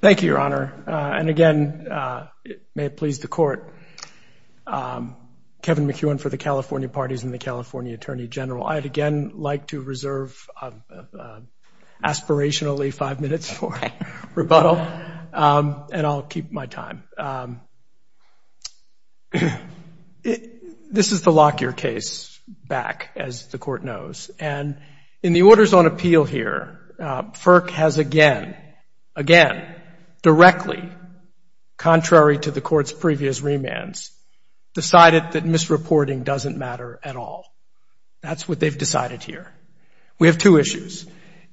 Thank you, Your Honor. And again, may it please the Court, Kevin McEwen for the California Parties and the California Attorney General. I'd again like to reserve aspirationally five minutes for rebuttal, and I'll keep my time. This is the Lockyer case back, as the Court knows. And in the Orders on Appeal here, FERC has again, again, directly, contrary to the Court's previous remands, decided that misreporting doesn't matter at all. That's what they've decided here. We have two issues.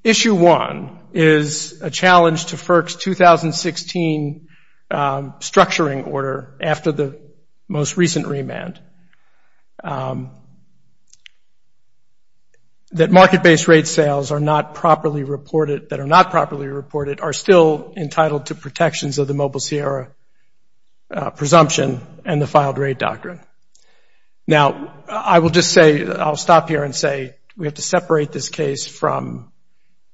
Issue one is a challenge to FERC's 2016 structuring order after the most recent remand. That market-based rate sales that are not properly reported are still entitled to protections of the Mobile Sierra presumption and the filed rate doctrine. Now, I will just say, I'll stop here and say, we have to separate this case from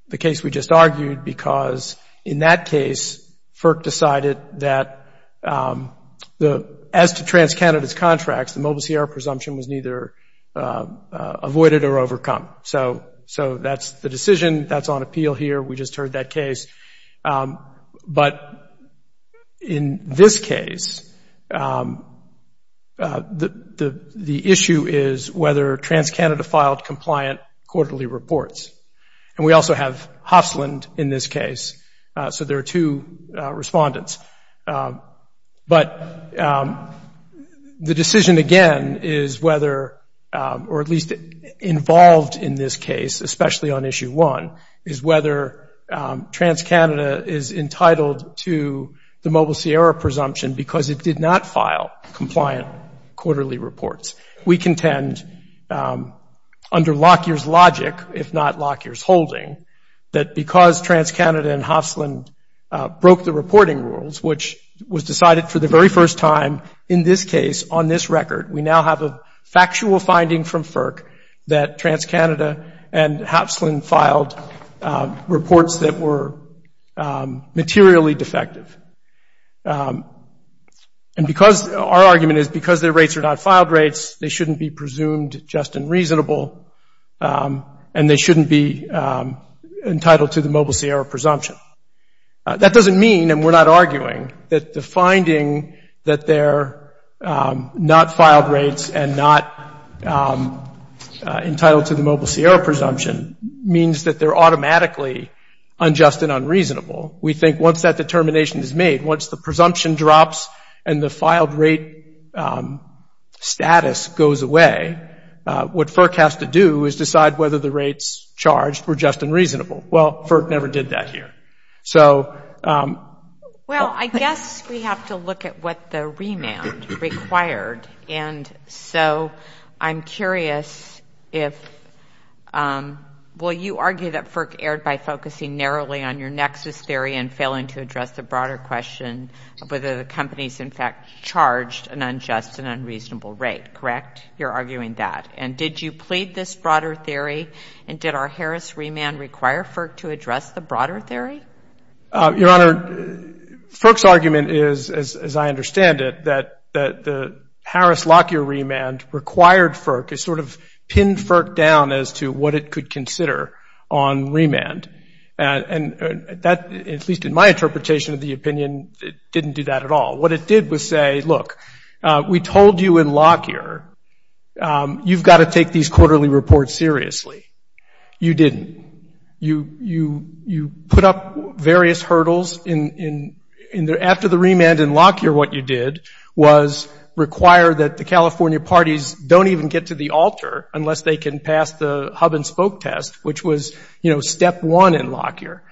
the case we just argued because in that case, FERC decided that as to TransCanada's contracts, the Mobile Sierra presumption was neither avoided or overcome. So that's the decision that's on appeal here. We just heard that case. But in this case, the issue is whether TransCanada filed compliant quarterly reports. And we also have Hofslund in this case. So there are two respondents. But the decision again is whether, or at least involved in this case, especially on issue one, is whether TransCanada is entitled to the Mobile Sierra presumption because it did not file compliant quarterly reports. We contend under Lockyer's logic, if not Lockyer's holding, that because TransCanada and Hofslund broke the reporting rules, which was decided for the very first time in this case on this record, we now have a factual finding from FERC that TransCanada and Hofslund filed reports that were materially defective. And because our argument is because their rates are not filed rates, they shouldn't be presumed just and reasonable, and they shouldn't be entitled to the Mobile Sierra presumption. That doesn't mean, and we're not arguing, that the finding that they're not filed rates and not entitled to the Mobile Sierra presumption means that they're automatically unjust and unreasonable. We think once that determination is made, once the presumption drops and the filed rate status goes away, what FERC has to do is decide whether the rates charged were just and reasonable. Well, FERC never did that here. So... Well, you argue that FERC erred by focusing narrowly on your nexus theory and failing to address the broader question of whether the companies in fact charged an unjust and unreasonable rate, correct? You're arguing that. And did you plead this broader theory? And did our Harris remand require FERC to address the broader theory? Your Honor, FERC's argument is, as I understand it, that the Harris Lockyer remand required FERC to sort of pin FERC down as to what it could consider on remand. And that, at least in my interpretation of the opinion, didn't do that at all. What it did was say, look, we told you in Lockyer you've got to take these quarterly reports seriously. You didn't. You put up various hurdles in... After the remand in Lockyer, what you did was require that the California parties don't even get to the altar unless they can pass the hub-and-spoke test, which was, you know, step one in Lockyer.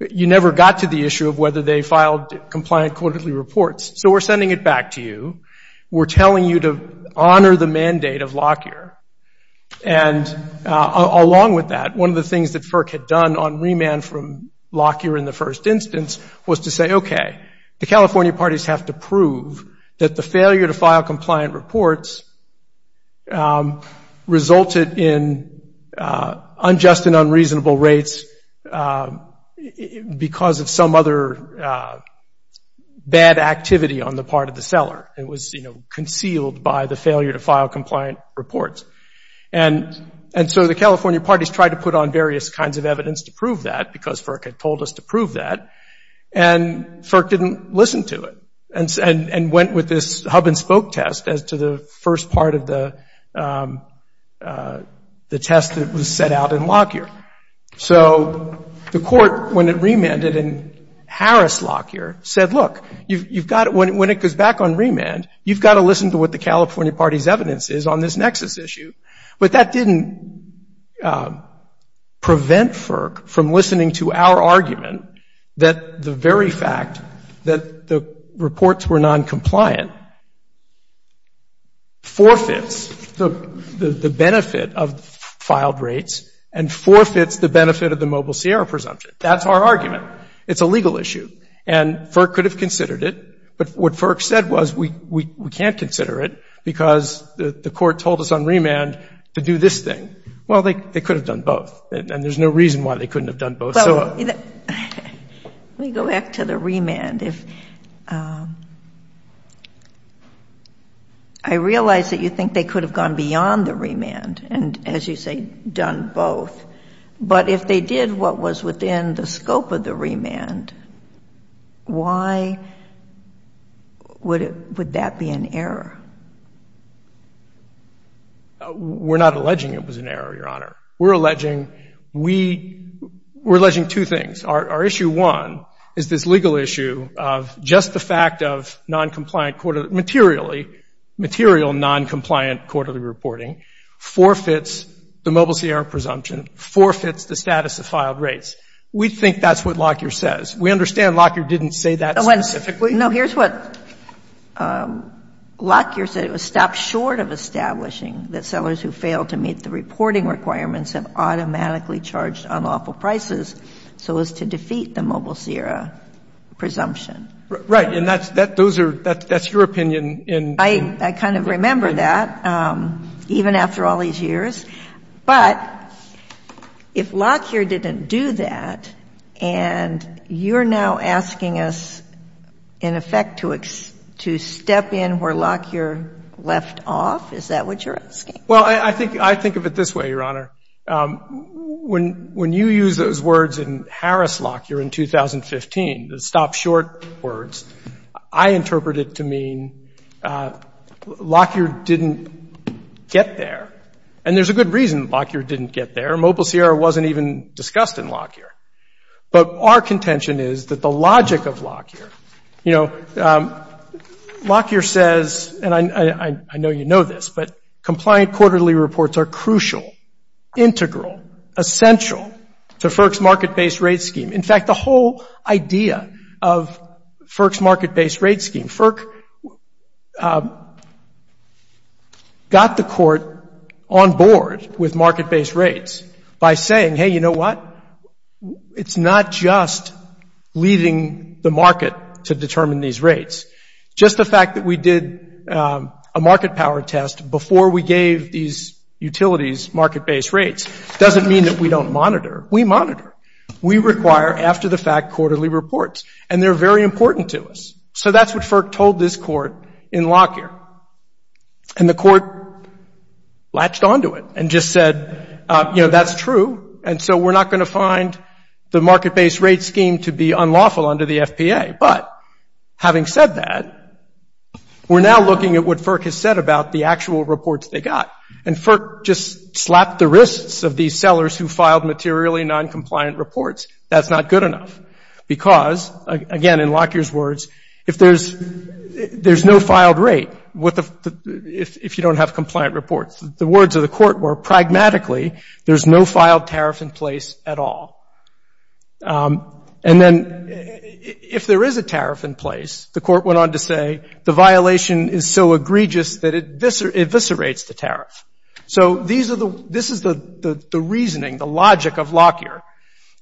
You never got to the issue of whether they filed compliant quarterly reports. So we're sending it back to you. We're telling you to honor the mandate of Lockyer. And along with that, one of the things that FERC had done on remand from that the failure to file compliant reports resulted in unjust and unreasonable rates because of some other bad activity on the part of the seller. It was concealed by the failure to file compliant reports. And so the California parties tried to put on various kinds of evidence to prove that because FERC had told us to prove that. And FERC didn't listen to it. And went with this hub-and-spoke test as to the first part of the test that was set out in Lockyer. So the court, when it remanded in Harris-Lockyer, said, look, when it goes back on remand, you've got to listen to what the California party's evidence is on this nexus issue. But that didn't prevent FERC from listening to our argument that the very fact that the reports were noncompliant forfeits the benefit of filed rates and forfeits the benefit of the Mobile Sierra presumption. That's our argument. It's a legal issue. And FERC could have considered it. But what FERC said was, we can't consider it because the court told us on remand to do this thing. Well, they could have done both. And there's no reason why they couldn't have done both. Let me go back to the remand. I realize that you think they could have gone beyond the remand and, as you say, done both. But if they did what was within the scope of the remand, why would that be an error? We're not alleging it was an error, Your Honor. We're alleging two things. Our issue one is this legal issue of just the fact of material noncompliant quarterly reporting forfeits the Mobile Sierra presumption, forfeits the status of filed rates. We think that's what Lockyer says. We understand Lockyer didn't say that specifically. No. Here's what Lockyer said. It was stopped short of establishing that sellers who failed to meet the reporting requirements have automatically charged unlawful prices so as to defeat the Mobile Sierra presumption. Right. And that's your opinion. I kind of remember that, even after all these years. But if Lockyer didn't do that and you're now asking us, in effect, to step in where Lockyer left off, is that what you're asking? Well, I think of it this way, Your Honor. When you use those words in Harris-Lockyer in 2015, the stop short words, I interpret it to mean Lockyer didn't get there. And there's a good reason Lockyer didn't get there. Mobile Sierra wasn't even discussed in Lockyer. But our contention is that the logic of Lockyer, you know, Lockyer says, and I know you know this, but compliant quarterly reports are crucial, integral, essential to FERC's market-based rate scheme. In fact, the whole idea of FERC's market-based rate scheme, FERC got the court on board with market-based rates by saying, hey, you know what? It's not just leading the market to determine these rates. Just the fact that we did a market power test before we gave these utilities market-based rates doesn't mean that we don't monitor. We monitor. We require, after the fact, quarterly reports. And they're very important to us. So that's what FERC told this court in Lockyer. And the court latched onto it and just said, you know, that's true. And so we're not going to find the market-based rate scheme to be unlawful under the FPA. But having said that, we're now looking at what FERC has said about the actual reports they got. And FERC just slapped the wrists of these sellers who filed materially non-compliant reports. That's not good enough. Because, again, in Lockyer's words, if there's no filed rate, if you don't have compliant reports, the words of the court were, pragmatically, there's no filed tariff in place at all. And then if there is a tariff in place, the court went on to say the violation is so egregious that it eviscerates the tariff. So this is the reasoning, the logic of Lockyer.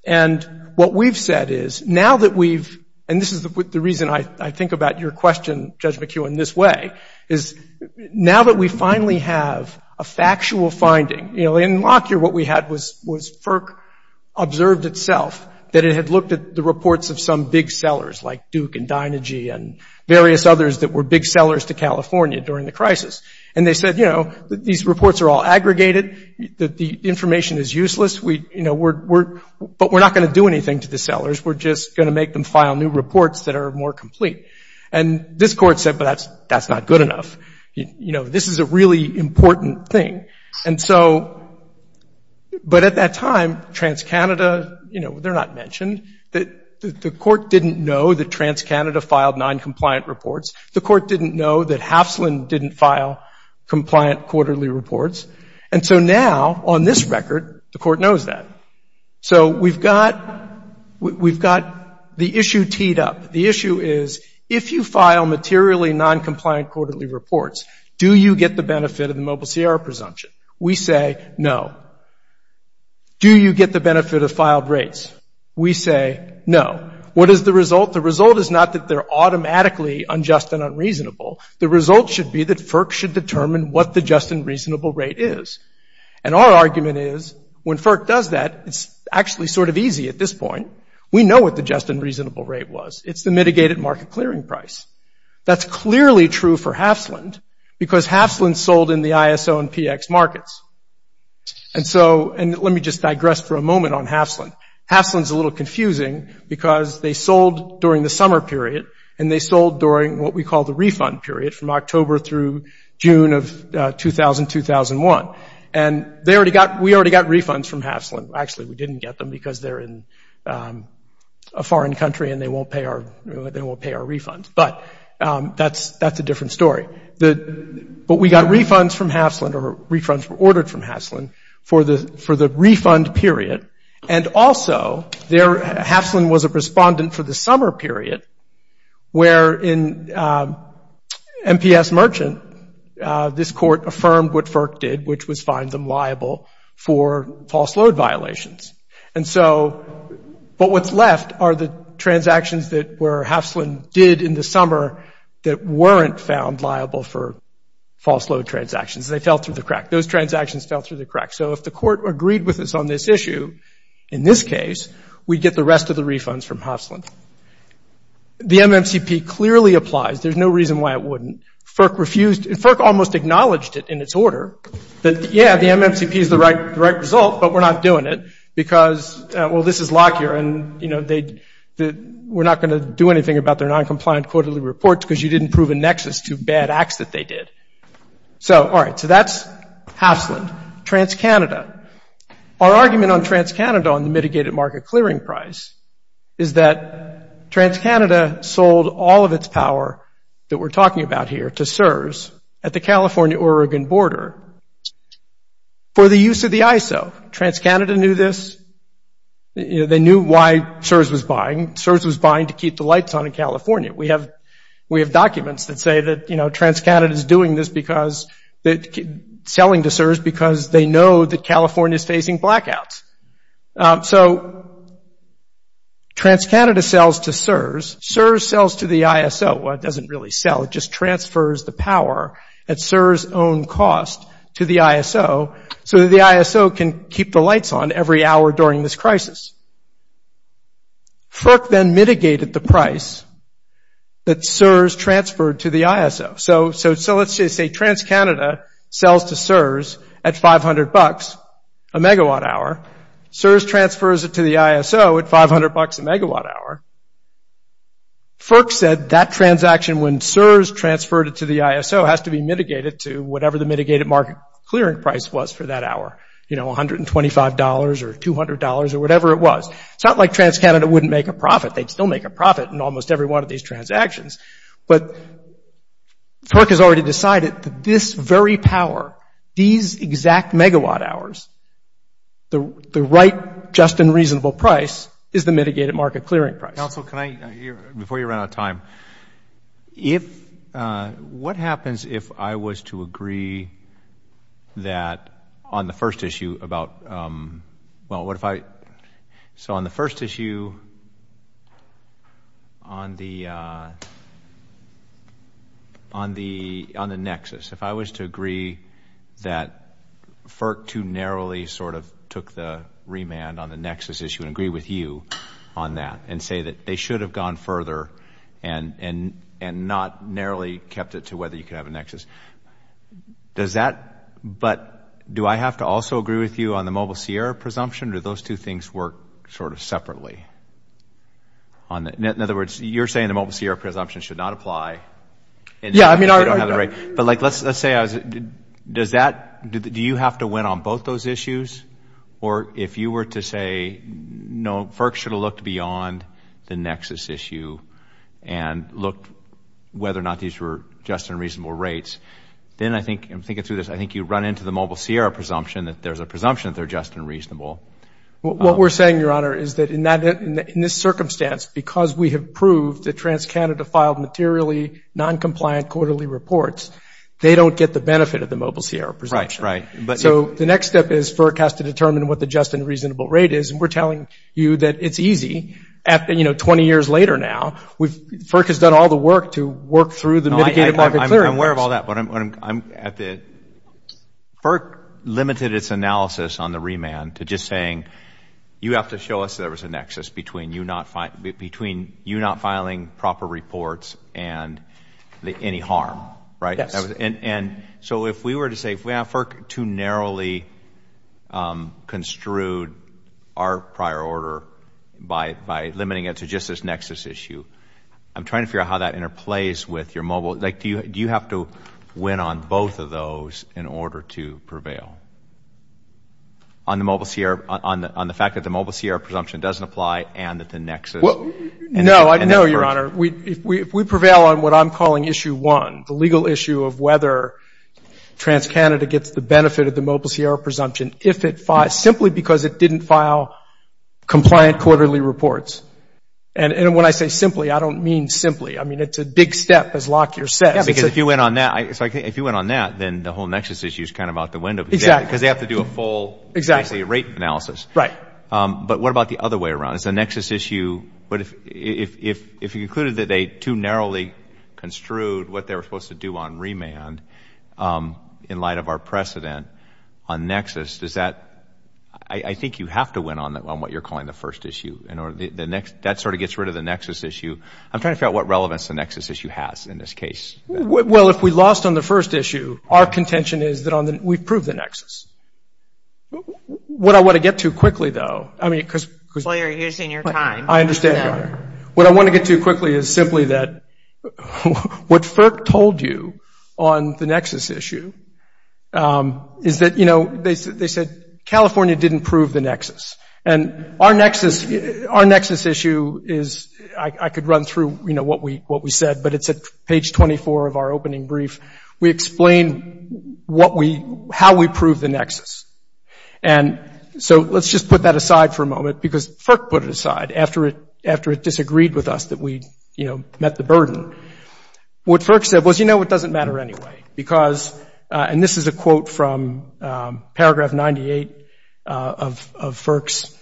And what we've said is, now that we've, and this is the reason I think about your question, Judge McKeown, this way, is now that we finally have a factual finding, you know, in Lockyer, what we had was FERC observed itself that it had looked at the reports of some big sellers like And they said, you know, these reports are all aggregated, that the information is useless, but we're not going to do anything to the sellers. We're just going to make them file new reports that are more complete. And this court said, but that's not good enough. You know, this is a really important thing. And so, but at that time, TransCanada, you know, they're not mentioned. The court didn't know that TransCanada filed non-compliant reports. The court didn't know that Hafslund didn't file compliant quarterly reports. And so now, on this record, the court knows that. So we've got, we've got the issue teed up. The issue is, if you file materially non-compliant quarterly reports, do you get the benefit of the Mobile Sierra presumption? We say no. Do you get the benefit of filed rates? We say no. What is the The result should be that FERC should determine what the just and reasonable rate is. And our argument is, when FERC does that, it's actually sort of easy at this point. We know what the just and reasonable rate was. It's the mitigated market clearing price. That's clearly true for Hafslund because Hafslund sold in the ISO and PX markets. And so, and let me just digress for a moment on Hafslund. Hafslund's a little confusing because they sold during the summer period and they sold during what we call the refund period from October through June of 2000, 2001. And they already got, we already got refunds from Hafslund. Actually, we didn't get them because they're in a foreign country and they won't pay our, they won't pay our refunds. But that's, that's a different story. But we got refunds from Hafslund or refunds were ordered from Hafslund for the, for the refund period. And also, their, Hafslund was a respondent for the where in MPS Merchant, this court affirmed what FERC did, which was find them liable for false load violations. And so, but what's left are the transactions that were, Hafslund did in the summer that weren't found liable for false load transactions. They fell through the crack. Those transactions fell through the crack. So, if the court agreed with us on this issue, in this case, we'd get the rest of the refunds from Hafslund. The MMCP clearly applies. There's no reason why it wouldn't. FERC refused, FERC almost acknowledged it in its order that, yeah, the MMCP is the right, the right result, but we're not doing it because, well, this is Lockyer and, you know, they, we're not going to do anything about their non-compliant quarterly reports because you didn't prove a nexus to bad acts that they did. So, all right, so that's Hafslund. TransCanada. Our argument on TransCanada on the mitigated market clearing price is that TransCanada sold all of its power that we're talking about here to CSRS at the California, Oregon border for the use of the ISO. TransCanada knew this. They knew why CSRS was buying. CSRS was buying to keep the lights on in California. We have, we have documents that say that, you know, they know that California is facing blackouts. So, TransCanada sells to CSRS. CSRS sells to the ISO. Well, it doesn't really sell. It just transfers the power at CSRS' own cost to the ISO so that the ISO can keep the lights on every hour during this crisis. FERC then mitigated the price that CSRS transferred to the ISO. So, let's just say TransCanada sells to CSRS at $500 a megawatt hour. CSRS transfers it to the ISO at $500 a megawatt hour. FERC said that transaction when CSRS transferred it to the ISO has to be mitigated to whatever the mitigated market clearing price was for that hour, you know, $125 or $200 or whatever it was. It's not like TransCanada wouldn't make a profit. They'd still make a profit in this very power, these exact megawatt hours, the right just and reasonable price is the mitigated market clearing price. Council, can I, before you run out of time, if, what happens if I was to agree that on the first issue about, well, what if I, so on the first issue on the Nexus, if I was to agree that FERC too narrowly sort of took the remand on the Nexus issue and agree with you on that and say that they should have gone further and not narrowly kept it to whether you could have a Nexus. Does that, but do I have to also agree with you on the Mobile Sierra presumption? Do those two things work sort of separately? In other words, you're saying the Mobile Sierra presumption should not apply. Yeah, I mean, I don't have the right, but like, let's say I was, does that, do you have to win on both those issues or if you were to say, no, FERC should have looked beyond the Nexus issue and looked whether or not these were just and reasonable rates, then I think, I'm thinking through this, I think you run into the Mobile Sierra presumption that there's a presumption that they're just and reasonable. What we're saying, Your Honor, is that in that, in this circumstance, because we have proved that TransCanada filed materially non-compliant quarterly reports, they don't get the benefit of the Mobile Sierra presumption. Right, right. So the next step is FERC has to determine what the just and reasonable rate is and we're telling you that it's easy at, you know, 20 years later now, we've, FERC has done all the work to work through the mitigated market clearance. I'm aware of all that, but I'm at the, FERC limited its analysis on the remand to just saying, you have to show us there was a nexus between you not, between you not filing proper reports and any harm, right? And so if we were to say, if we have FERC too narrowly construed our prior order by, by limiting it to just this Nexus issue, I'm trying to figure out how that interplays with your Mobile, like, do you, do you have to win on both of those in order to prevail on the Mobile Sierra, on the, on the fact that the Mobile Sierra presumption doesn't apply and that the Nexus. Well, no, no, Your Honor, we, if we, if we prevail on what I'm calling issue one, the legal issue of whether TransCanada gets the benefit of the Mobile Sierra presumption if it filed, simply because it didn't file compliant quarterly reports. And, and when I say simply, I don't mean simply. I mean, it's a big step as Lockyer says. Because if you went on that, it's like, if you went on that, then the whole Nexus issue is kind of out the window. Exactly. Because they have to do a full rate analysis. Right. But what about the other way around? It's a Nexus issue, but if, if, if you concluded that they too narrowly construed what they were supposed to do on remand in light of our precedent on Nexus, does that, I, I think you have to win on what you're calling the first issue in order, the next, that sort of gets rid of the Nexus issue. I'm trying to figure out what relevance the Nexus issue has in this case. Well, if we lost on the first issue, our contention is that on the, we've proved the Nexus. What I want to get to quickly, though, I mean, because. Well, you're using your time. I understand. What I want to get to quickly is simply that what FERC told you on the Nexus issue is that, you know, they said, they said And our Nexus, our Nexus issue is, I could run through, you know, what we, what we said, but it's at page 24 of our opening brief. We explain what we, how we prove the Nexus. And so let's just put that aside for a moment because FERC put it aside after it, after it disagreed with us that we, you know, met the burden. What FERC said was, you know, it doesn't matter anyway because, and this is a quote from paragraph 98 of FERC's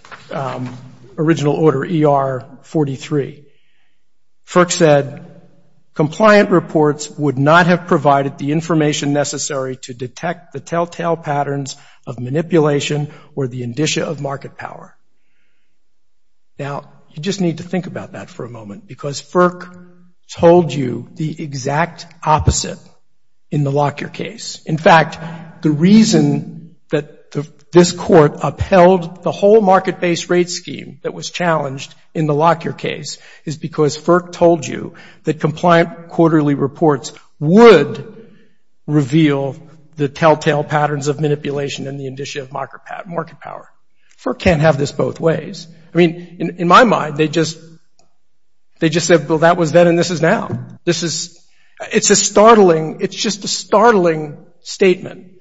original order ER-43. FERC said, Now, you just need to think about that for a moment because FERC told you the exact opposite in the Lockyer case. In fact, the reason that this court upheld the whole market-based rate scheme that was challenged in the Lockyer case is because FERC told you that compliant quarterly reports would reveal the telltale patterns of manipulation and the indicia of market power. FERC can't have this both ways. I mean, in my mind, they just, they just said, well, and this is now. This is, it's a startling, it's just a startling statement.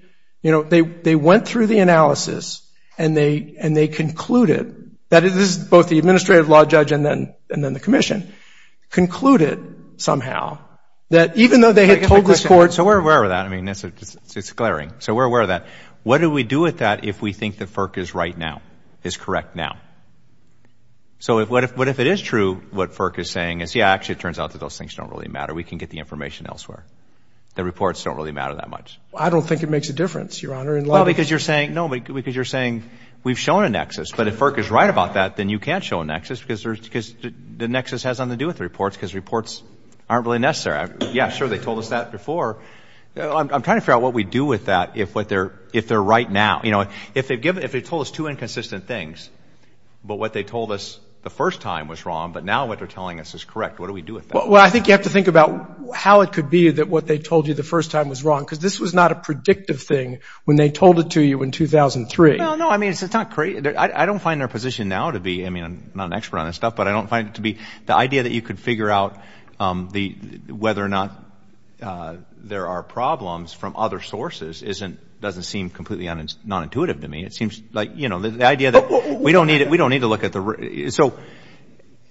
You know, they, they went through the analysis and they, and they concluded that it is both the administrative law judge and then, and then the commission concluded somehow that even though they had told this court. So we're aware of that. I mean, it's, it's glaring. So we're aware of that. What do we do with that if we think that FERC is right now, is correct now? So if, what if, if it is true, what FERC is saying is, yeah, actually it turns out that those things don't really matter. We can get the information elsewhere. The reports don't really matter that much. I don't think it makes a difference, Your Honor. Well, because you're saying, no, because you're saying we've shown a nexus, but if FERC is right about that, then you can't show a nexus because there's, because the nexus has nothing to do with reports because reports aren't really necessary. Yeah, sure. They told us that before. I'm trying to figure out what we do with that. If what they're, if they're right now, you know, if they've given, if they told us two inconsistent things, but what they told us the first time was wrong, but now what they're telling us is correct, what do we do with that? Well, I think you have to think about how it could be that what they told you the first time was wrong, because this was not a predictive thing when they told it to you in 2003. No, no, I mean, it's, it's not, I don't find their position now to be, I mean, I'm not an expert on this stuff, but I don't find it to be the idea that you could figure out the, whether or not there are problems from other sources isn't, doesn't seem completely non-intuitive to me. It seems like, you know, the idea that we don't need it, we don't need to look at the, so,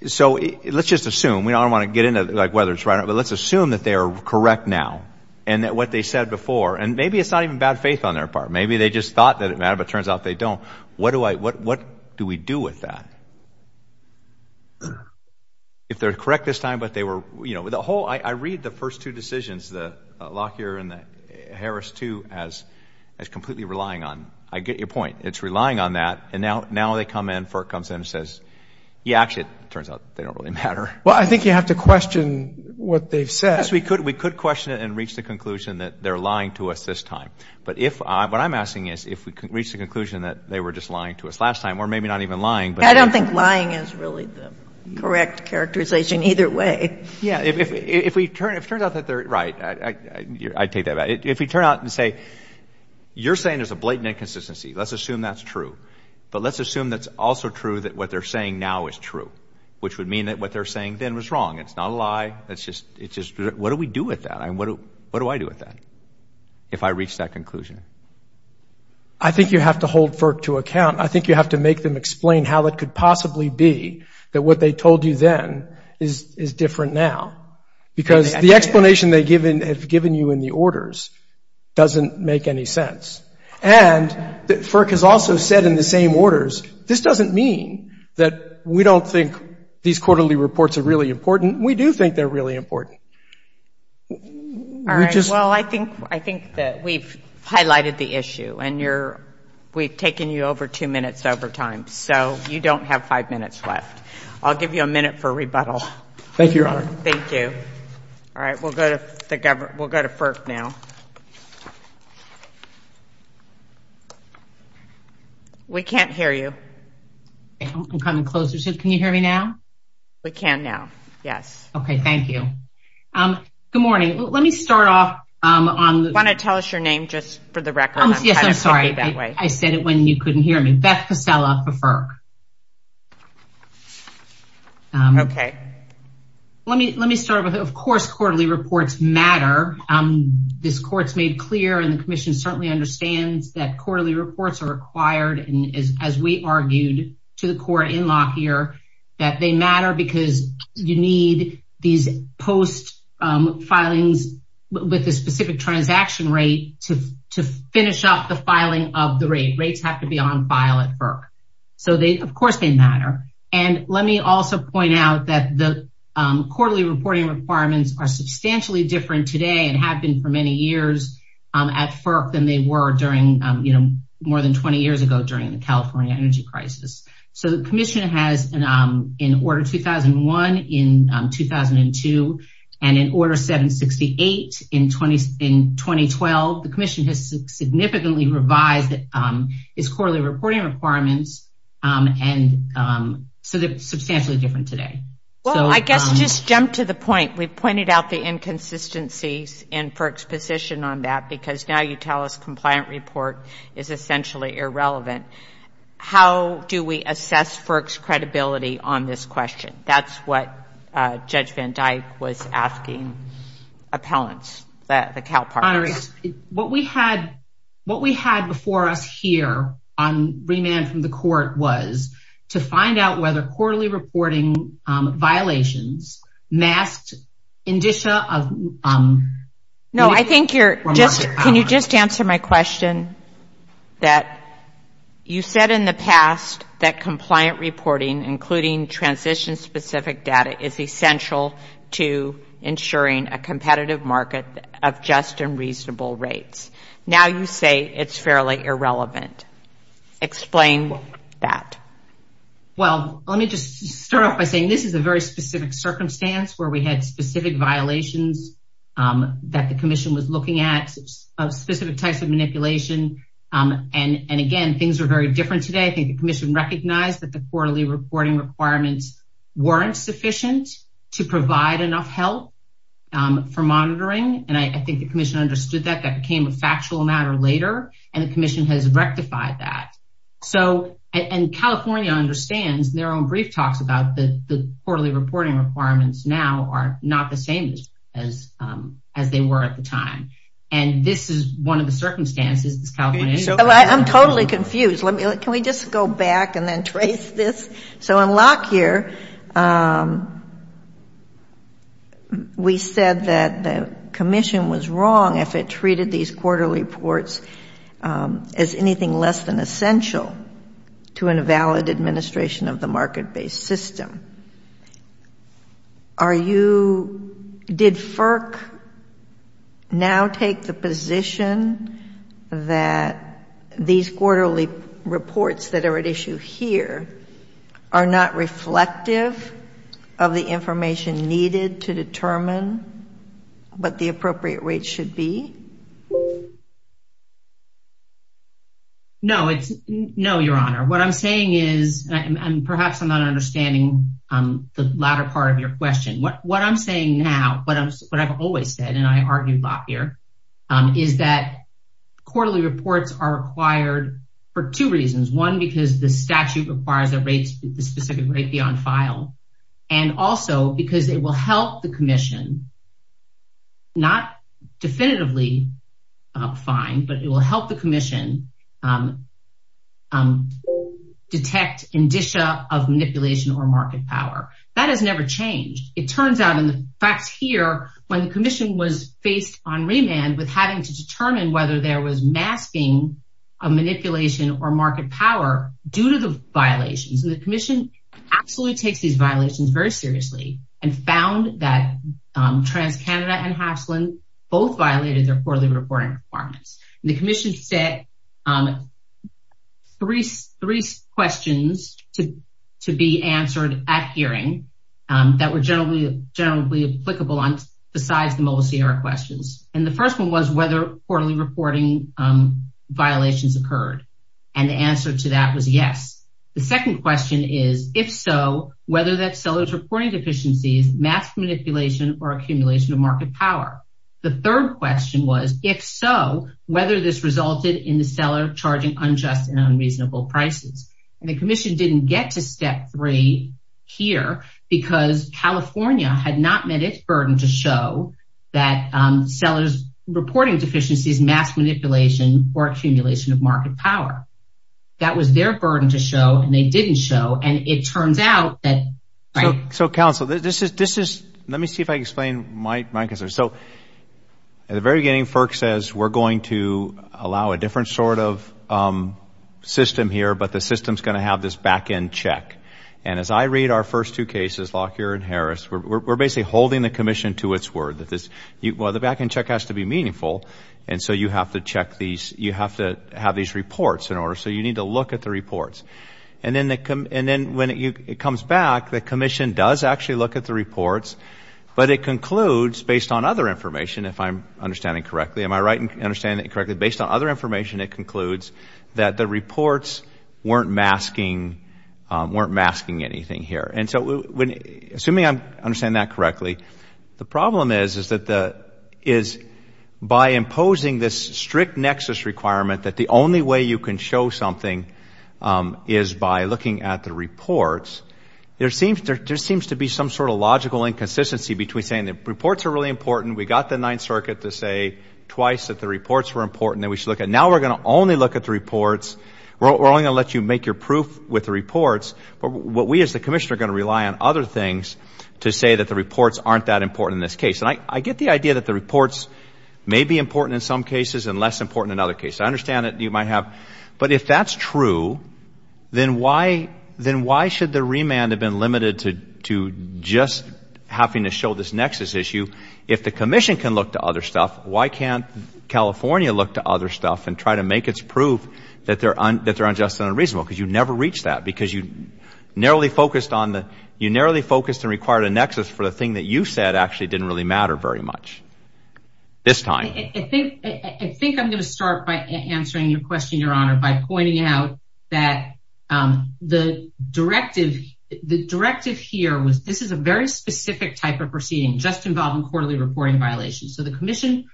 so let's just assume, we don't want to get into, like, whether it's right or not, but let's assume that they are correct now and that what they said before, and maybe it's not even bad faith on their part. Maybe they just thought that it mattered, but turns out they don't. What do I, what, what do we do with that? If they're correct this time, but they were, you know, the whole, I read the first two decisions, the Lockyer and the Harris two as, as completely relying on, I get your point, it's relying on that, and now, now they come in, FERC comes in and says, yeah, actually, it turns out they don't really matter. Well, I think you have to question what they've said. Yes, we could, we could question it and reach the conclusion that they're lying to us this time, but if I, what I'm asking is, if we can reach the conclusion that they were just lying to us last time, or maybe not even lying. I don't think lying is really the correct characterization either way. Yeah, if, if, if we turn, if it turns out that they're right, I take that back. If we turn out and say, you're saying there's a blatant inconsistency, let's assume that's true, but let's assume that's also true that what they're saying now is true, which would mean that what they're saying then was wrong. It's not a lie, it's just, it's just, what do we do with that? I mean, what do, what do I do with that if I reach that conclusion? I think you have to hold FERC to account. I think you have to make them explain how it could possibly be that what they told you then is, is different now, because the explanation they given, have given you in the orders doesn't make any sense. And FERC has also said in the same orders, this doesn't mean that we don't think these quarterly reports are really important. We do think they're really important. All right, well, I think, I think that we've highlighted the five minutes left. I'll give you a minute for rebuttal. Thank you, Your Honor. Thank you. All right, we'll go to the government. We'll go to FERC now. We can't hear you. I'm coming closer. Can you hear me now? We can now. Yes. Okay, thank you. Good morning. Let me start off on... Do you want to tell us your name just for the record? Yes, I'm sorry. I said it when you couldn't hear me. Beth Pasella for FERC. Okay. Let me, let me start with, of course, quarterly reports matter. This court's made clear and the commission certainly understands that quarterly reports are required and as we argued to the court in Lockyer, that they matter because you need these post filings with a specific transaction rate to finish up the filing of the rate. Rates have to be on file at FERC. So they, of course, they matter. And let me also point out that the quarterly reporting requirements are substantially different today and have been for many years at FERC than they were during, you know, more than 20 years ago during the California energy crisis. So the commission has, in order 2001, in 2002, and in order 768 in 2012, the commission has significantly revised its quarterly reporting requirements. And so they're substantially different today. Well, I guess just jump to the point. We've pointed out the inconsistencies in FERC's position on that because now you tell us compliant report is essentially irrelevant. How do we assess FERC's credibility on this question? That's what Judge Van Dyke was asking appellants. What we had before us here on remand from the court was to find out whether quarterly reporting violations masked indicia of... No, I think you're just, can you just answer my question that you said in the past that compliant reporting, including transition specific data, is essential to ensuring a competitive market of just and reasonable rates. Now you say it's fairly irrelevant. Explain that. Well, let me just start off by saying this is a very specific circumstance where we had specific violations that the commission was looking at, specific types of manipulation. And again, things are very different today. I think the commission recognized that the quarterly reporting requirements weren't sufficient to provide enough help for monitoring. And I think the commission understood that that became a factual matter later. And the commission has rectified that. So, and California understands their own brief talks about the quarterly reporting requirements now are not the same as they were at the time. And this is one of the So in Lockyer, we said that the commission was wrong if it treated these quarterly reports as anything less than essential to an invalid administration of the market-based system. Are you, did FERC now take the position that these quarterly reports that are at issue here are not reflective of the information needed to determine what the appropriate rate should be? No, it's no, your honor. What I'm saying is, and perhaps I'm not understanding the latter part of your question. What I'm saying now, what I've always said, and I argued Lockyer, is that the specific rate be on file. And also because it will help the commission, not definitively fine, but it will help the commission detect indicia of manipulation or market power. That has never changed. It turns out in the facts here, when the commission was faced on remand with having to determine whether there was masking of manipulation or market power due to the violations. And the commission absolutely takes these violations very seriously and found that TransCanada and Hopslin both violated their quarterly reporting requirements. And the commission set three questions to be answered at hearing that were generally applicable on besides the mobile CR questions. And the first one was whether quarterly reporting violations occurred. And the answer to that was yes. The second question is, if so, whether that seller's reporting deficiencies, mask manipulation or accumulation of market power. The third question was, if so, whether this resulted in the seller charging unjust and unreasonable prices. And the commission didn't get to step three here because California had not met its burden to show that seller's reporting deficiencies, mass manipulation or accumulation of market power. That was their burden to show and they didn't show. And it turns out that. Right. So counsel, this is this is let me see if I explain my answer. So at the very beginning, FERC says we're going to allow a different sort of system here, but the system's going to have this back end check. And as I read our first two cases, Lockyer and Harris, we're basically holding the commission to its word that this well, the back end check has to be meaningful. And so you have to check these you have to have these reports in order. So you need to look at the reports. And then they come and then when it comes back, the commission does actually look at the reports. But it concludes based on other information, if I'm understanding correctly, am I right in understanding it correctly? Based on other information, it concludes that the reports weren't masking weren't masking anything here. And so when assuming I understand that correctly, the problem is, is that the is by imposing this strict nexus requirement that the only way you can show something is by looking at the reports. There seems there just seems to be some sort of logical inconsistency between saying the reports are really important. We got the Ninth Circuit to say twice that the reports were important that we should look at. Now we're going to only look at the reports. We're only going to let you make your proof with the reports. But what we as the commission are going to rely on other things to say that the reports aren't that important in this case. And I get the idea that the reports may be important in some cases and less important in other cases. I understand that you might have. But if that's true, then why should the remand have been limited to just having to show this nexus issue? If the commission can look to other stuff, why can't California look to other stuff and try to make its proof that they're unjust and unreasonable? Because you never reach that because you narrowly focused on the you narrowly focused and required a nexus for the thing that you said actually didn't really matter very much this time. I think I'm going to start by answering your question, Your Honor, by pointing out that the directive the directive here was this is a very specific type of proceeding just involving quarterly reporting violations. So the commission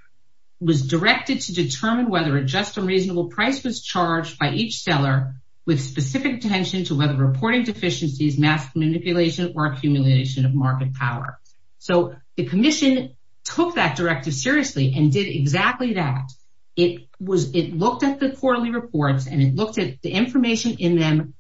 was directed to determine whether a just and reasonable price was charged by each seller with specific attention to whether reporting deficiencies, mass manipulation or accumulation of market power. So the commission took that directive seriously and did exactly that. It was it looked at the quarterly reports and it looked at the information in them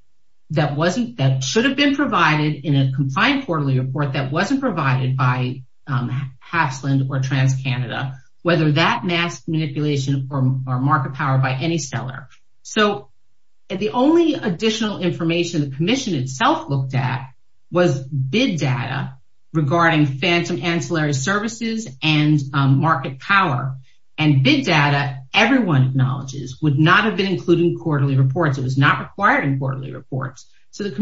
that wasn't that should have been provided in a confined quarterly report that wasn't provided by Hafslund or TransCanada, whether that mass manipulation or market power by any seller. So the only additional information the commission itself looked at was bid data regarding phantom ancillary services and market power and bid data everyone acknowledges would not have been included in quarterly reports. It was not required in quarterly reports. So the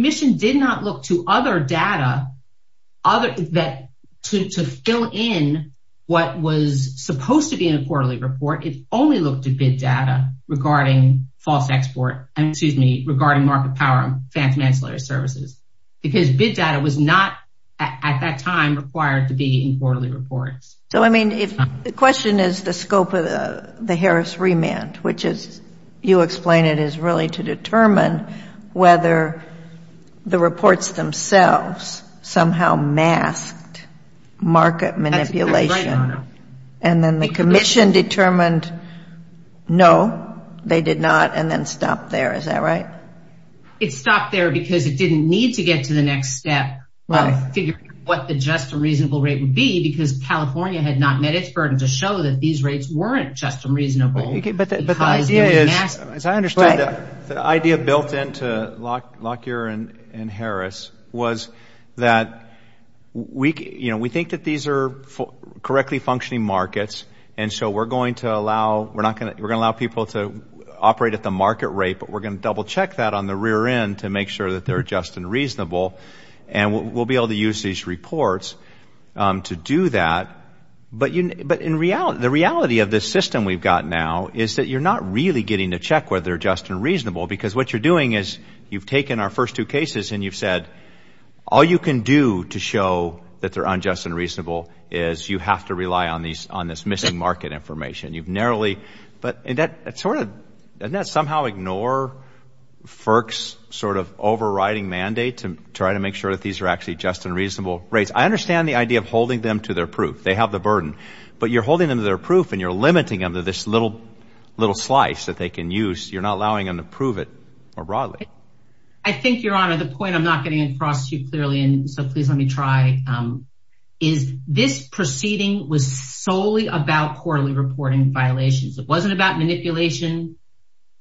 other that to fill in what was supposed to be in a quarterly report, it only looked at bid data regarding false export and excuse me regarding market power and phantom ancillary services because bid data was not at that time required to be in quarterly reports. So I mean if the question is the scope of the the Harris remand, which is you explain it is really to determine whether the reports themselves somehow masked market manipulation. And then the commission determined no, they did not and then stopped there. Is that right? It stopped there because it didn't need to get to the next step of figuring what the just and reasonable rate would be because California had not met its burden to show that these rates weren't just and reasonable. The idea built into Lockyer and Harris was that we think that these are correctly functioning markets and so we're going to allow we're not going to we're going to allow people to operate at the market rate, but we're going to double check that on the rear end to make sure that they're just and reasonable and we'll be able to use these reports to do that. But you but in reality the reality of this system we've got now is that you're not really getting to check whether they're just and reasonable because what you're doing is you've taken our first two cases and you've said all you can do to show that they're unjust and reasonable is you have to rely on these on this missing market information. You've narrowly but that sort of doesn't that somehow ignore FERC's sort of overriding mandate to try to make sure that these are actually just and reasonable rates. I understand the idea of holding them to their burden, but you're holding them to their proof and you're limiting them to this little little slice that they can use. You're not allowing them to prove it more broadly. I think your honor the point I'm not getting across to you clearly and so please let me try is this proceeding was solely about quarterly reporting violations. It wasn't about manipulation,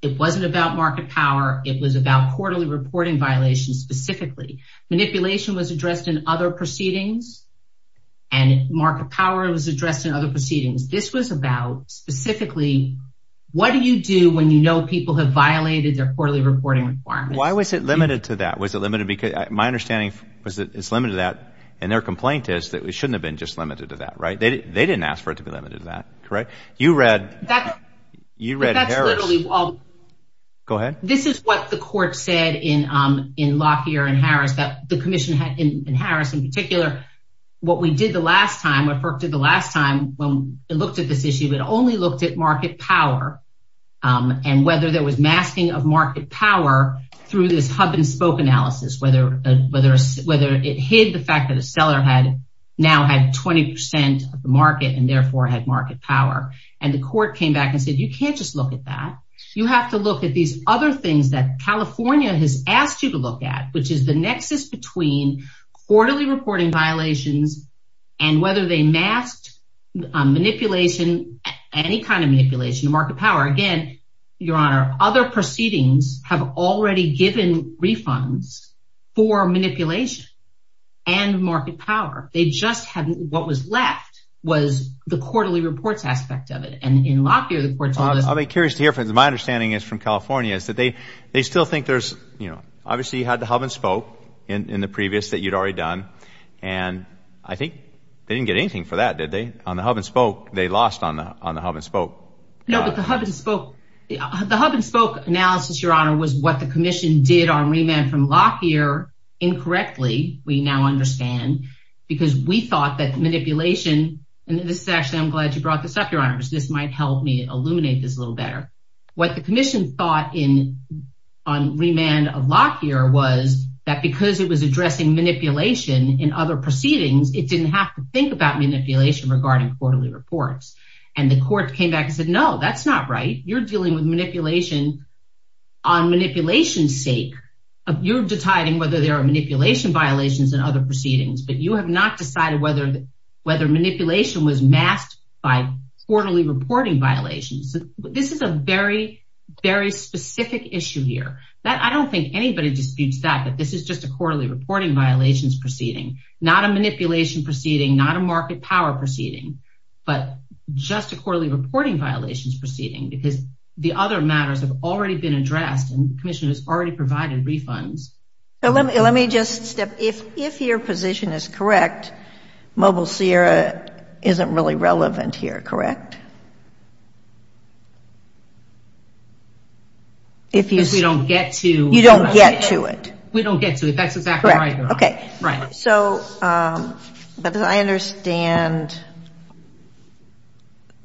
it wasn't about market power, it was about quarterly reporting violations specifically. Manipulation was addressed in other proceedings and market power was addressed in other proceedings. This was about specifically what do you do when you know people have violated their quarterly reporting requirements? Why was it limited to that? Was it limited because my understanding was that it's limited to that and their complaint is that it shouldn't have been just limited to that right? They didn't ask for it to be limited to that correct? You read you read Harris. Go ahead. This is what the court said in Lockyer and Harris that the commission had in Harris in particular what we did the last time what FERC did the last time when it looked at this issue it only looked at market power and whether there was masking of market power through this hub and spoke analysis whether it hid the fact that a seller had now had 20 percent of the market and the court came back and said you can't just look at that you have to look at these other things that California has asked you to look at which is the nexus between quarterly reporting violations and whether they masked manipulation any kind of manipulation of market power again your honor other proceedings have already given refunds for manipulation and market power they just hadn't what was left was the quarterly reports aspect of it and in Lockyer I'll be curious to hear from my understanding is from California is that they they still think there's you know obviously you had the hub and spoke in in the previous that you'd already done and I think they didn't get anything for that did they on the hub and spoke they lost on the on the hub and spoke no but the hub and spoke the hub and spoke analysis your honor was what commission did on remand from Lockyer incorrectly we now understand because we thought that manipulation and this is actually I'm glad you brought this up your honors this might help me illuminate this a little better what the commission thought in on remand of Lockyer was that because it was addressing manipulation in other proceedings it didn't have to think about manipulation regarding quarterly reports and the court came back and said no that's not right you're dealing with manipulation on manipulation's sake you're deciding whether there are manipulation violations and other proceedings but you have not decided whether whether manipulation was masked by quarterly reporting violations this is a very very specific issue here that I don't think anybody disputes that but this is just a quarterly reporting violations proceeding not a manipulation proceeding not a market power proceeding but just a quarterly reporting violations proceeding because the other matters have already been addressed and the commission has already provided refunds so let me let me just step if if your position is correct mobile sierra isn't really relevant here correct if you don't get to you don't get to it we don't get to it that's exactly right okay right so um i understand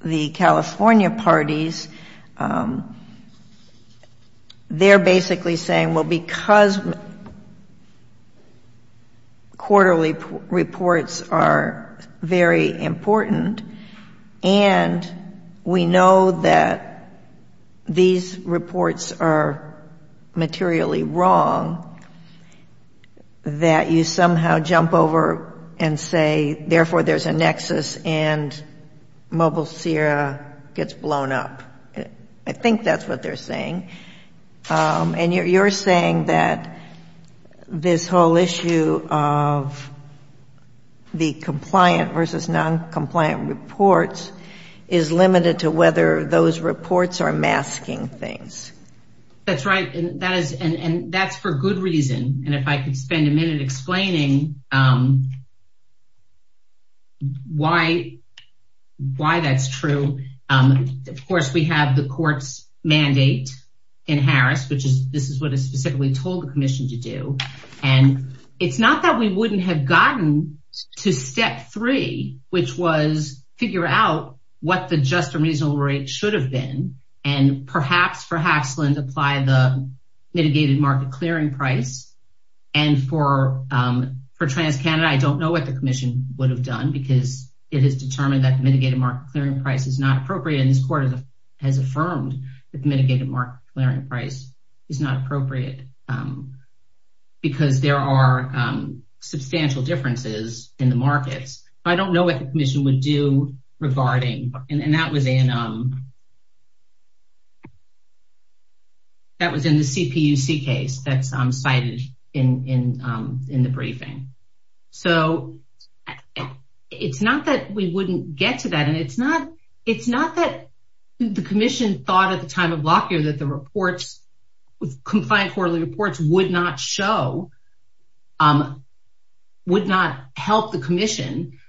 the california parties they're basically saying well because quarterly reports are very important and we know that these reports are materially wrong that you somehow jump over and say therefore there's a nexus and mobile sierra gets blown up i think that's what they're saying and you're saying that this whole issue of the compliant versus non-compliant reports is limited to whether those reports are masking things that's right and that is and and that's for good reason and if i could spend a minute explaining um why why that's true um of course we have the court's mandate in harris which is this is what i specifically told the commission to do and it's not that we wouldn't have gotten to step three which was figure out what the just and reasonable rate should have been and perhaps for haxland apply the mitigated market clearing price and for um for trans canada i don't know what the commission would have done because it has determined that the mitigated market clearing price is not appropriate and this court has affirmed that the mitigated market clearing price is not appropriate um because there are um substantial differences in the markets i don't know what the commission would do regarding and that was in um that was in the cpuc case that's um cited in in um in the briefing so it's not that we wouldn't get to that and it's not it's not that the commission thought at the time of lock year that the reports with compliant quarterly reports would not show um would not help the commission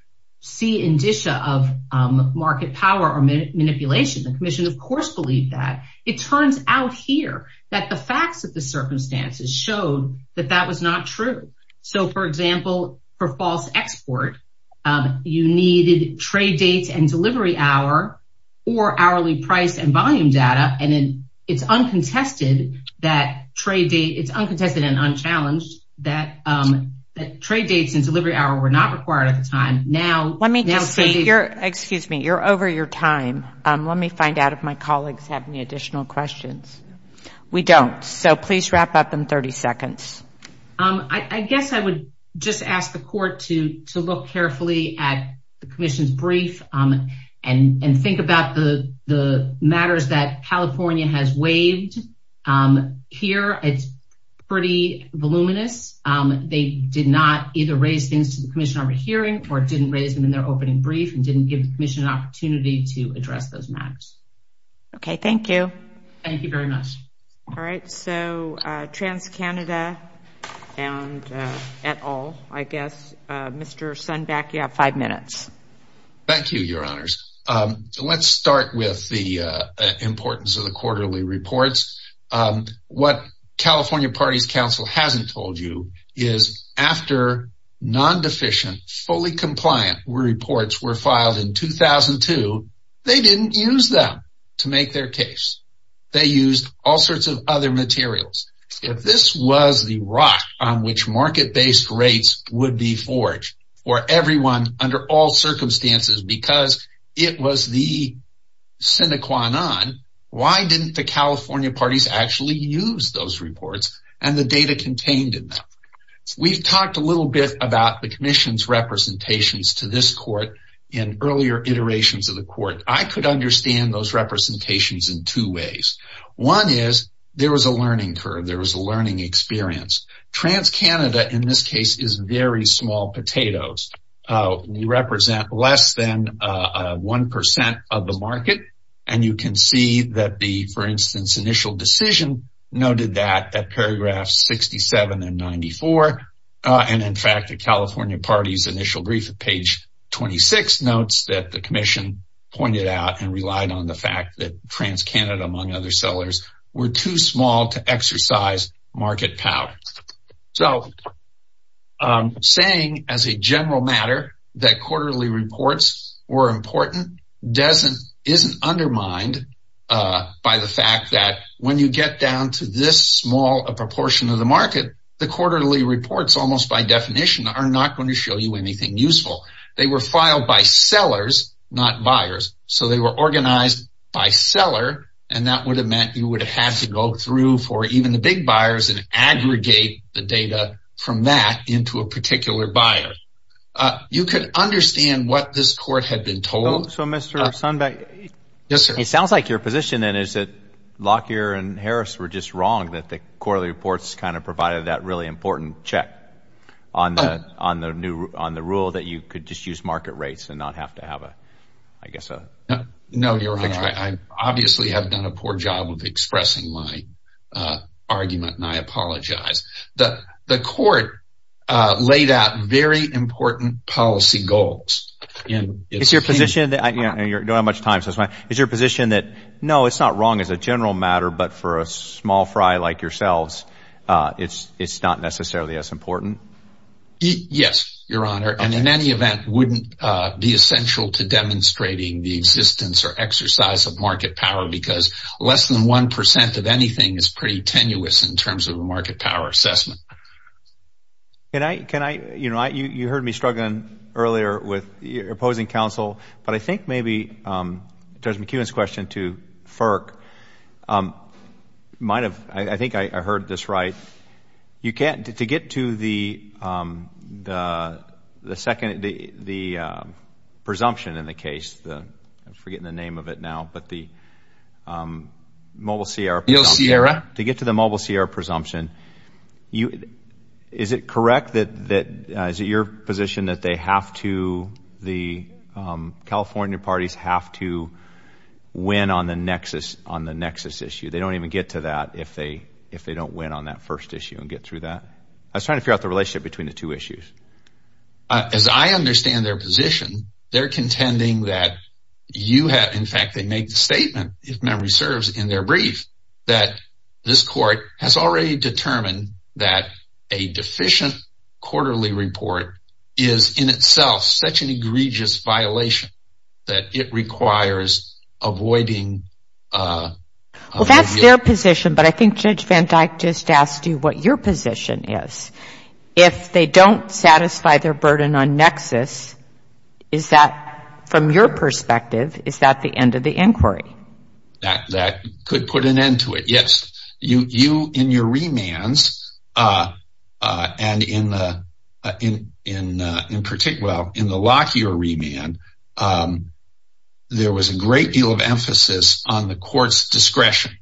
see indicia of um market power or manipulation the commission of course believed that it turns out here that the facts of the circumstances showed that that was not true so for example for false export um you needed trade dates and delivery hour or hourly price and volume data and then it's uncontested that trade date it's uncontested and unchallenged that um that trade dates and delivery hour were not required at the time now let me just say you're excuse me you're over your time um let me find out if my colleagues have any additional questions we don't so please wrap up in 30 seconds um i i guess i would just ask the court to to look carefully at the commission's brief um and and think about the the matters that california has um here it's pretty voluminous um they did not either raise things to the commission over hearing or didn't raise them in their opening brief and didn't give the commission an opportunity to address those matters okay thank you thank you very much all right so uh trans canada and at all i guess uh mr sun back you have five minutes thank you your honors um let's start with the uh importance of the quarterly reports um what california parties council hasn't told you is after non-deficient fully compliant reports were filed in 2002 they didn't use them to make their case they used all sorts of other materials if this was the rock on which market-based rates would be forged for everyone under all circumstances because it was the sine qua non why didn't the california parties actually use those reports and the data contained in them we've talked a little bit about the commission's representations to this court in earlier iterations of the court i could understand those representations in two ways one is there was a learning curve there was a learning experience trans canada in this case is very small potatoes uh we represent less than uh one percent of the market and you can see that the for instance initial decision noted that at paragraph 67 and 94 uh and in fact the california party's initial brief at page 26 notes that the commission pointed out and relied on the fact that other sellers were too small to exercise market power so um saying as a general matter that quarterly reports were important doesn't isn't undermined uh by the fact that when you get down to this small a proportion of the market the quarterly reports almost by definition are not going to show you anything useful they were filed by sellers not buyers so they were organized by seller and that would have meant you would have had to go through for even the big buyers and aggregate the data from that into a particular buyer uh you could understand what this court had been told so mr sunbeck yes it sounds like your position then is that lockyer and harris were just wrong that the quarterly reports kind of provided that really important check on the on the new on the rule that you could just use market rates and not have to have a guess no no your honor i obviously have done a poor job of expressing my uh argument and i apologize the the court uh laid out very important policy goals and it's your position that you don't have much time so it's my is your position that no it's not wrong as a general matter but for a small fry like yourselves uh it's it's not necessarily as important yes your honor and in any event wouldn't uh be essential to demonstrating the existence or exercise of market power because less than one percent of anything is pretty tenuous in terms of a market power assessment can i can i you know i you you heard me struggling earlier with your opposing counsel but i think maybe um judge mckeown's question to firk um might have i think i i heard this right you can't to get to the um the the second the the um presumption in the case the i'm forgetting the name of it now but the um mobile sierra to get to the mobile sierra presumption you is it correct that that is it your position that they have to the um california parties have to win on the nexus on the nexus issue they don't even get to that if they if they don't win on that first issue and get through that i was trying to figure out the relationship between the two issues as i understand their position they're contending that you have in fact they make the statement if memory serves in their brief that this court has already determined that a deficient quarterly report is in itself such an egregious violation that it requires avoiding uh well that's their position but i think judge van dyke just asked you what your position is if they don't satisfy their burden on nexus is that from your perspective is that the end of the inquiry that that could put an end to it yes you you in your remands uh uh and in the in in uh in particular in the lock your remand um there was a great deal of emphasis on the court's discretion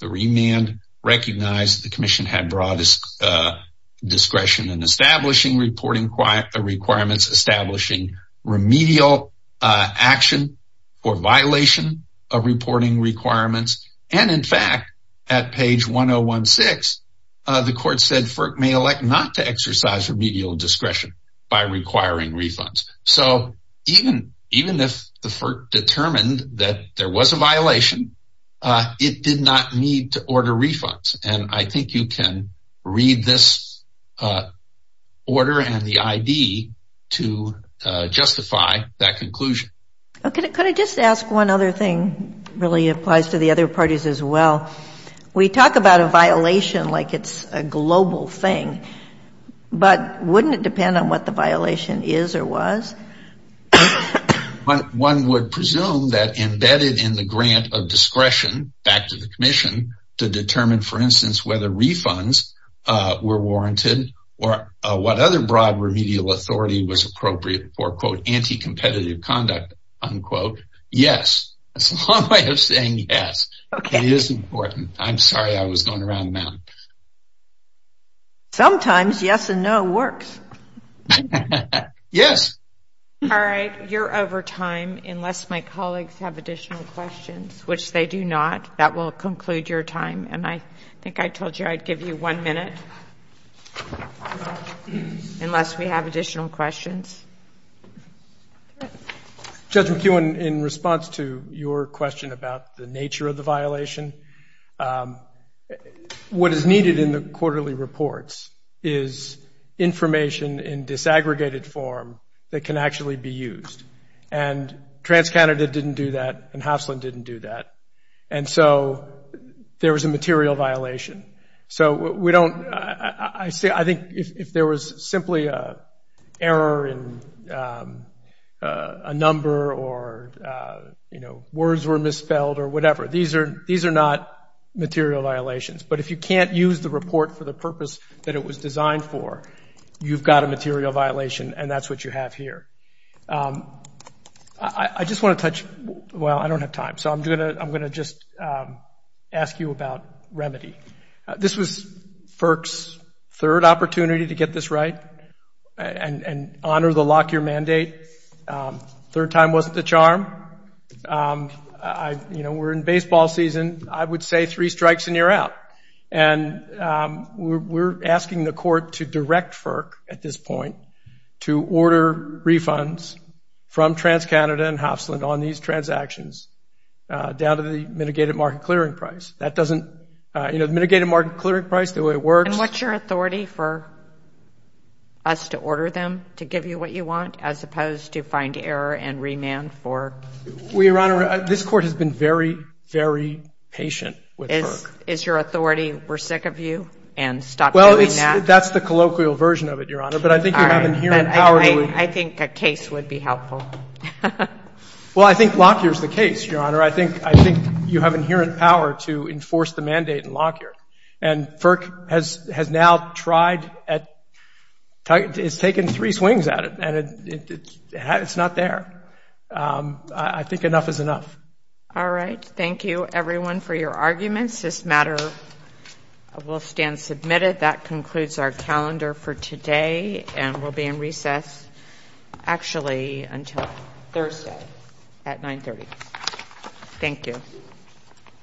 the remand recognized the commission had broadest uh discretion in establishing reporting quiet requirements establishing remedial uh action or violation of reporting requirements and in fact at page 1016 uh the court said FERC may elect not to exercise remedial discretion by requiring refunds so even even if the FERC determined that there was a violation uh it did not need to order refunds and i think you can read this uh order and the id to uh justify that conclusion okay could i just ask one other thing really applies to the other parties as well we talk about a violation like it's a global thing but wouldn't it depend on the violation is or was one would presume that embedded in the grant of discretion back to the commission to determine for instance whether refunds uh were warranted or what other broad remedial authority was appropriate for quote anti-competitive conduct unquote yes that's a long way of saying yes okay it is important i'm sorry i was going around the mountain sometimes yes and no works yes all right you're over time unless my colleagues have additional questions which they do not that will conclude your time and i think i told you i'd give you one minute unless we have additional questions judge mckeown in response to your question about the nature of the violation um what is needed in the quarterly reports is information in disaggregated form that can actually be used and trans canada didn't do that and hopslin didn't do that and so there was a material violation so we don't i say i think if there was simply a error in um a number or uh you know words were misspelled or whatever these are these are not material violations but if you can't use the report for the purpose that it was designed for you've got a material violation and that's what you have here um i i just want to touch well i don't have time so i'm gonna i'm gonna just um ask you about remedy this was firks third opportunity to get this right and and honor the lock your mandate um third time wasn't the charm um i you know we're in baseball season i would say three strikes and you're out and um we're asking the court to direct firk at this point to order refunds from trans canada and hopslin on these transactions uh down to the mitigated market clearing price that doesn't uh you know the mitigated market clearing price the way it works and what's your authority for us to order them to give you what you want as opposed to find error and remand for we your honor this court has been very very patient with is is your authority we're sick of you and stop well that's the colloquial version of it your honor but i think you have an inherent power i think a case would be helpful well i think lock here's the case your honor i think i think you have inherent power to enforce the mandate in firk has has now tried at it's taken three swings at it and it's not there um i think enough is enough all right thank you everyone for your arguments this matter will stand submitted that concludes our calendar for today and we'll be in recess actually until thursday at 9 30. thank you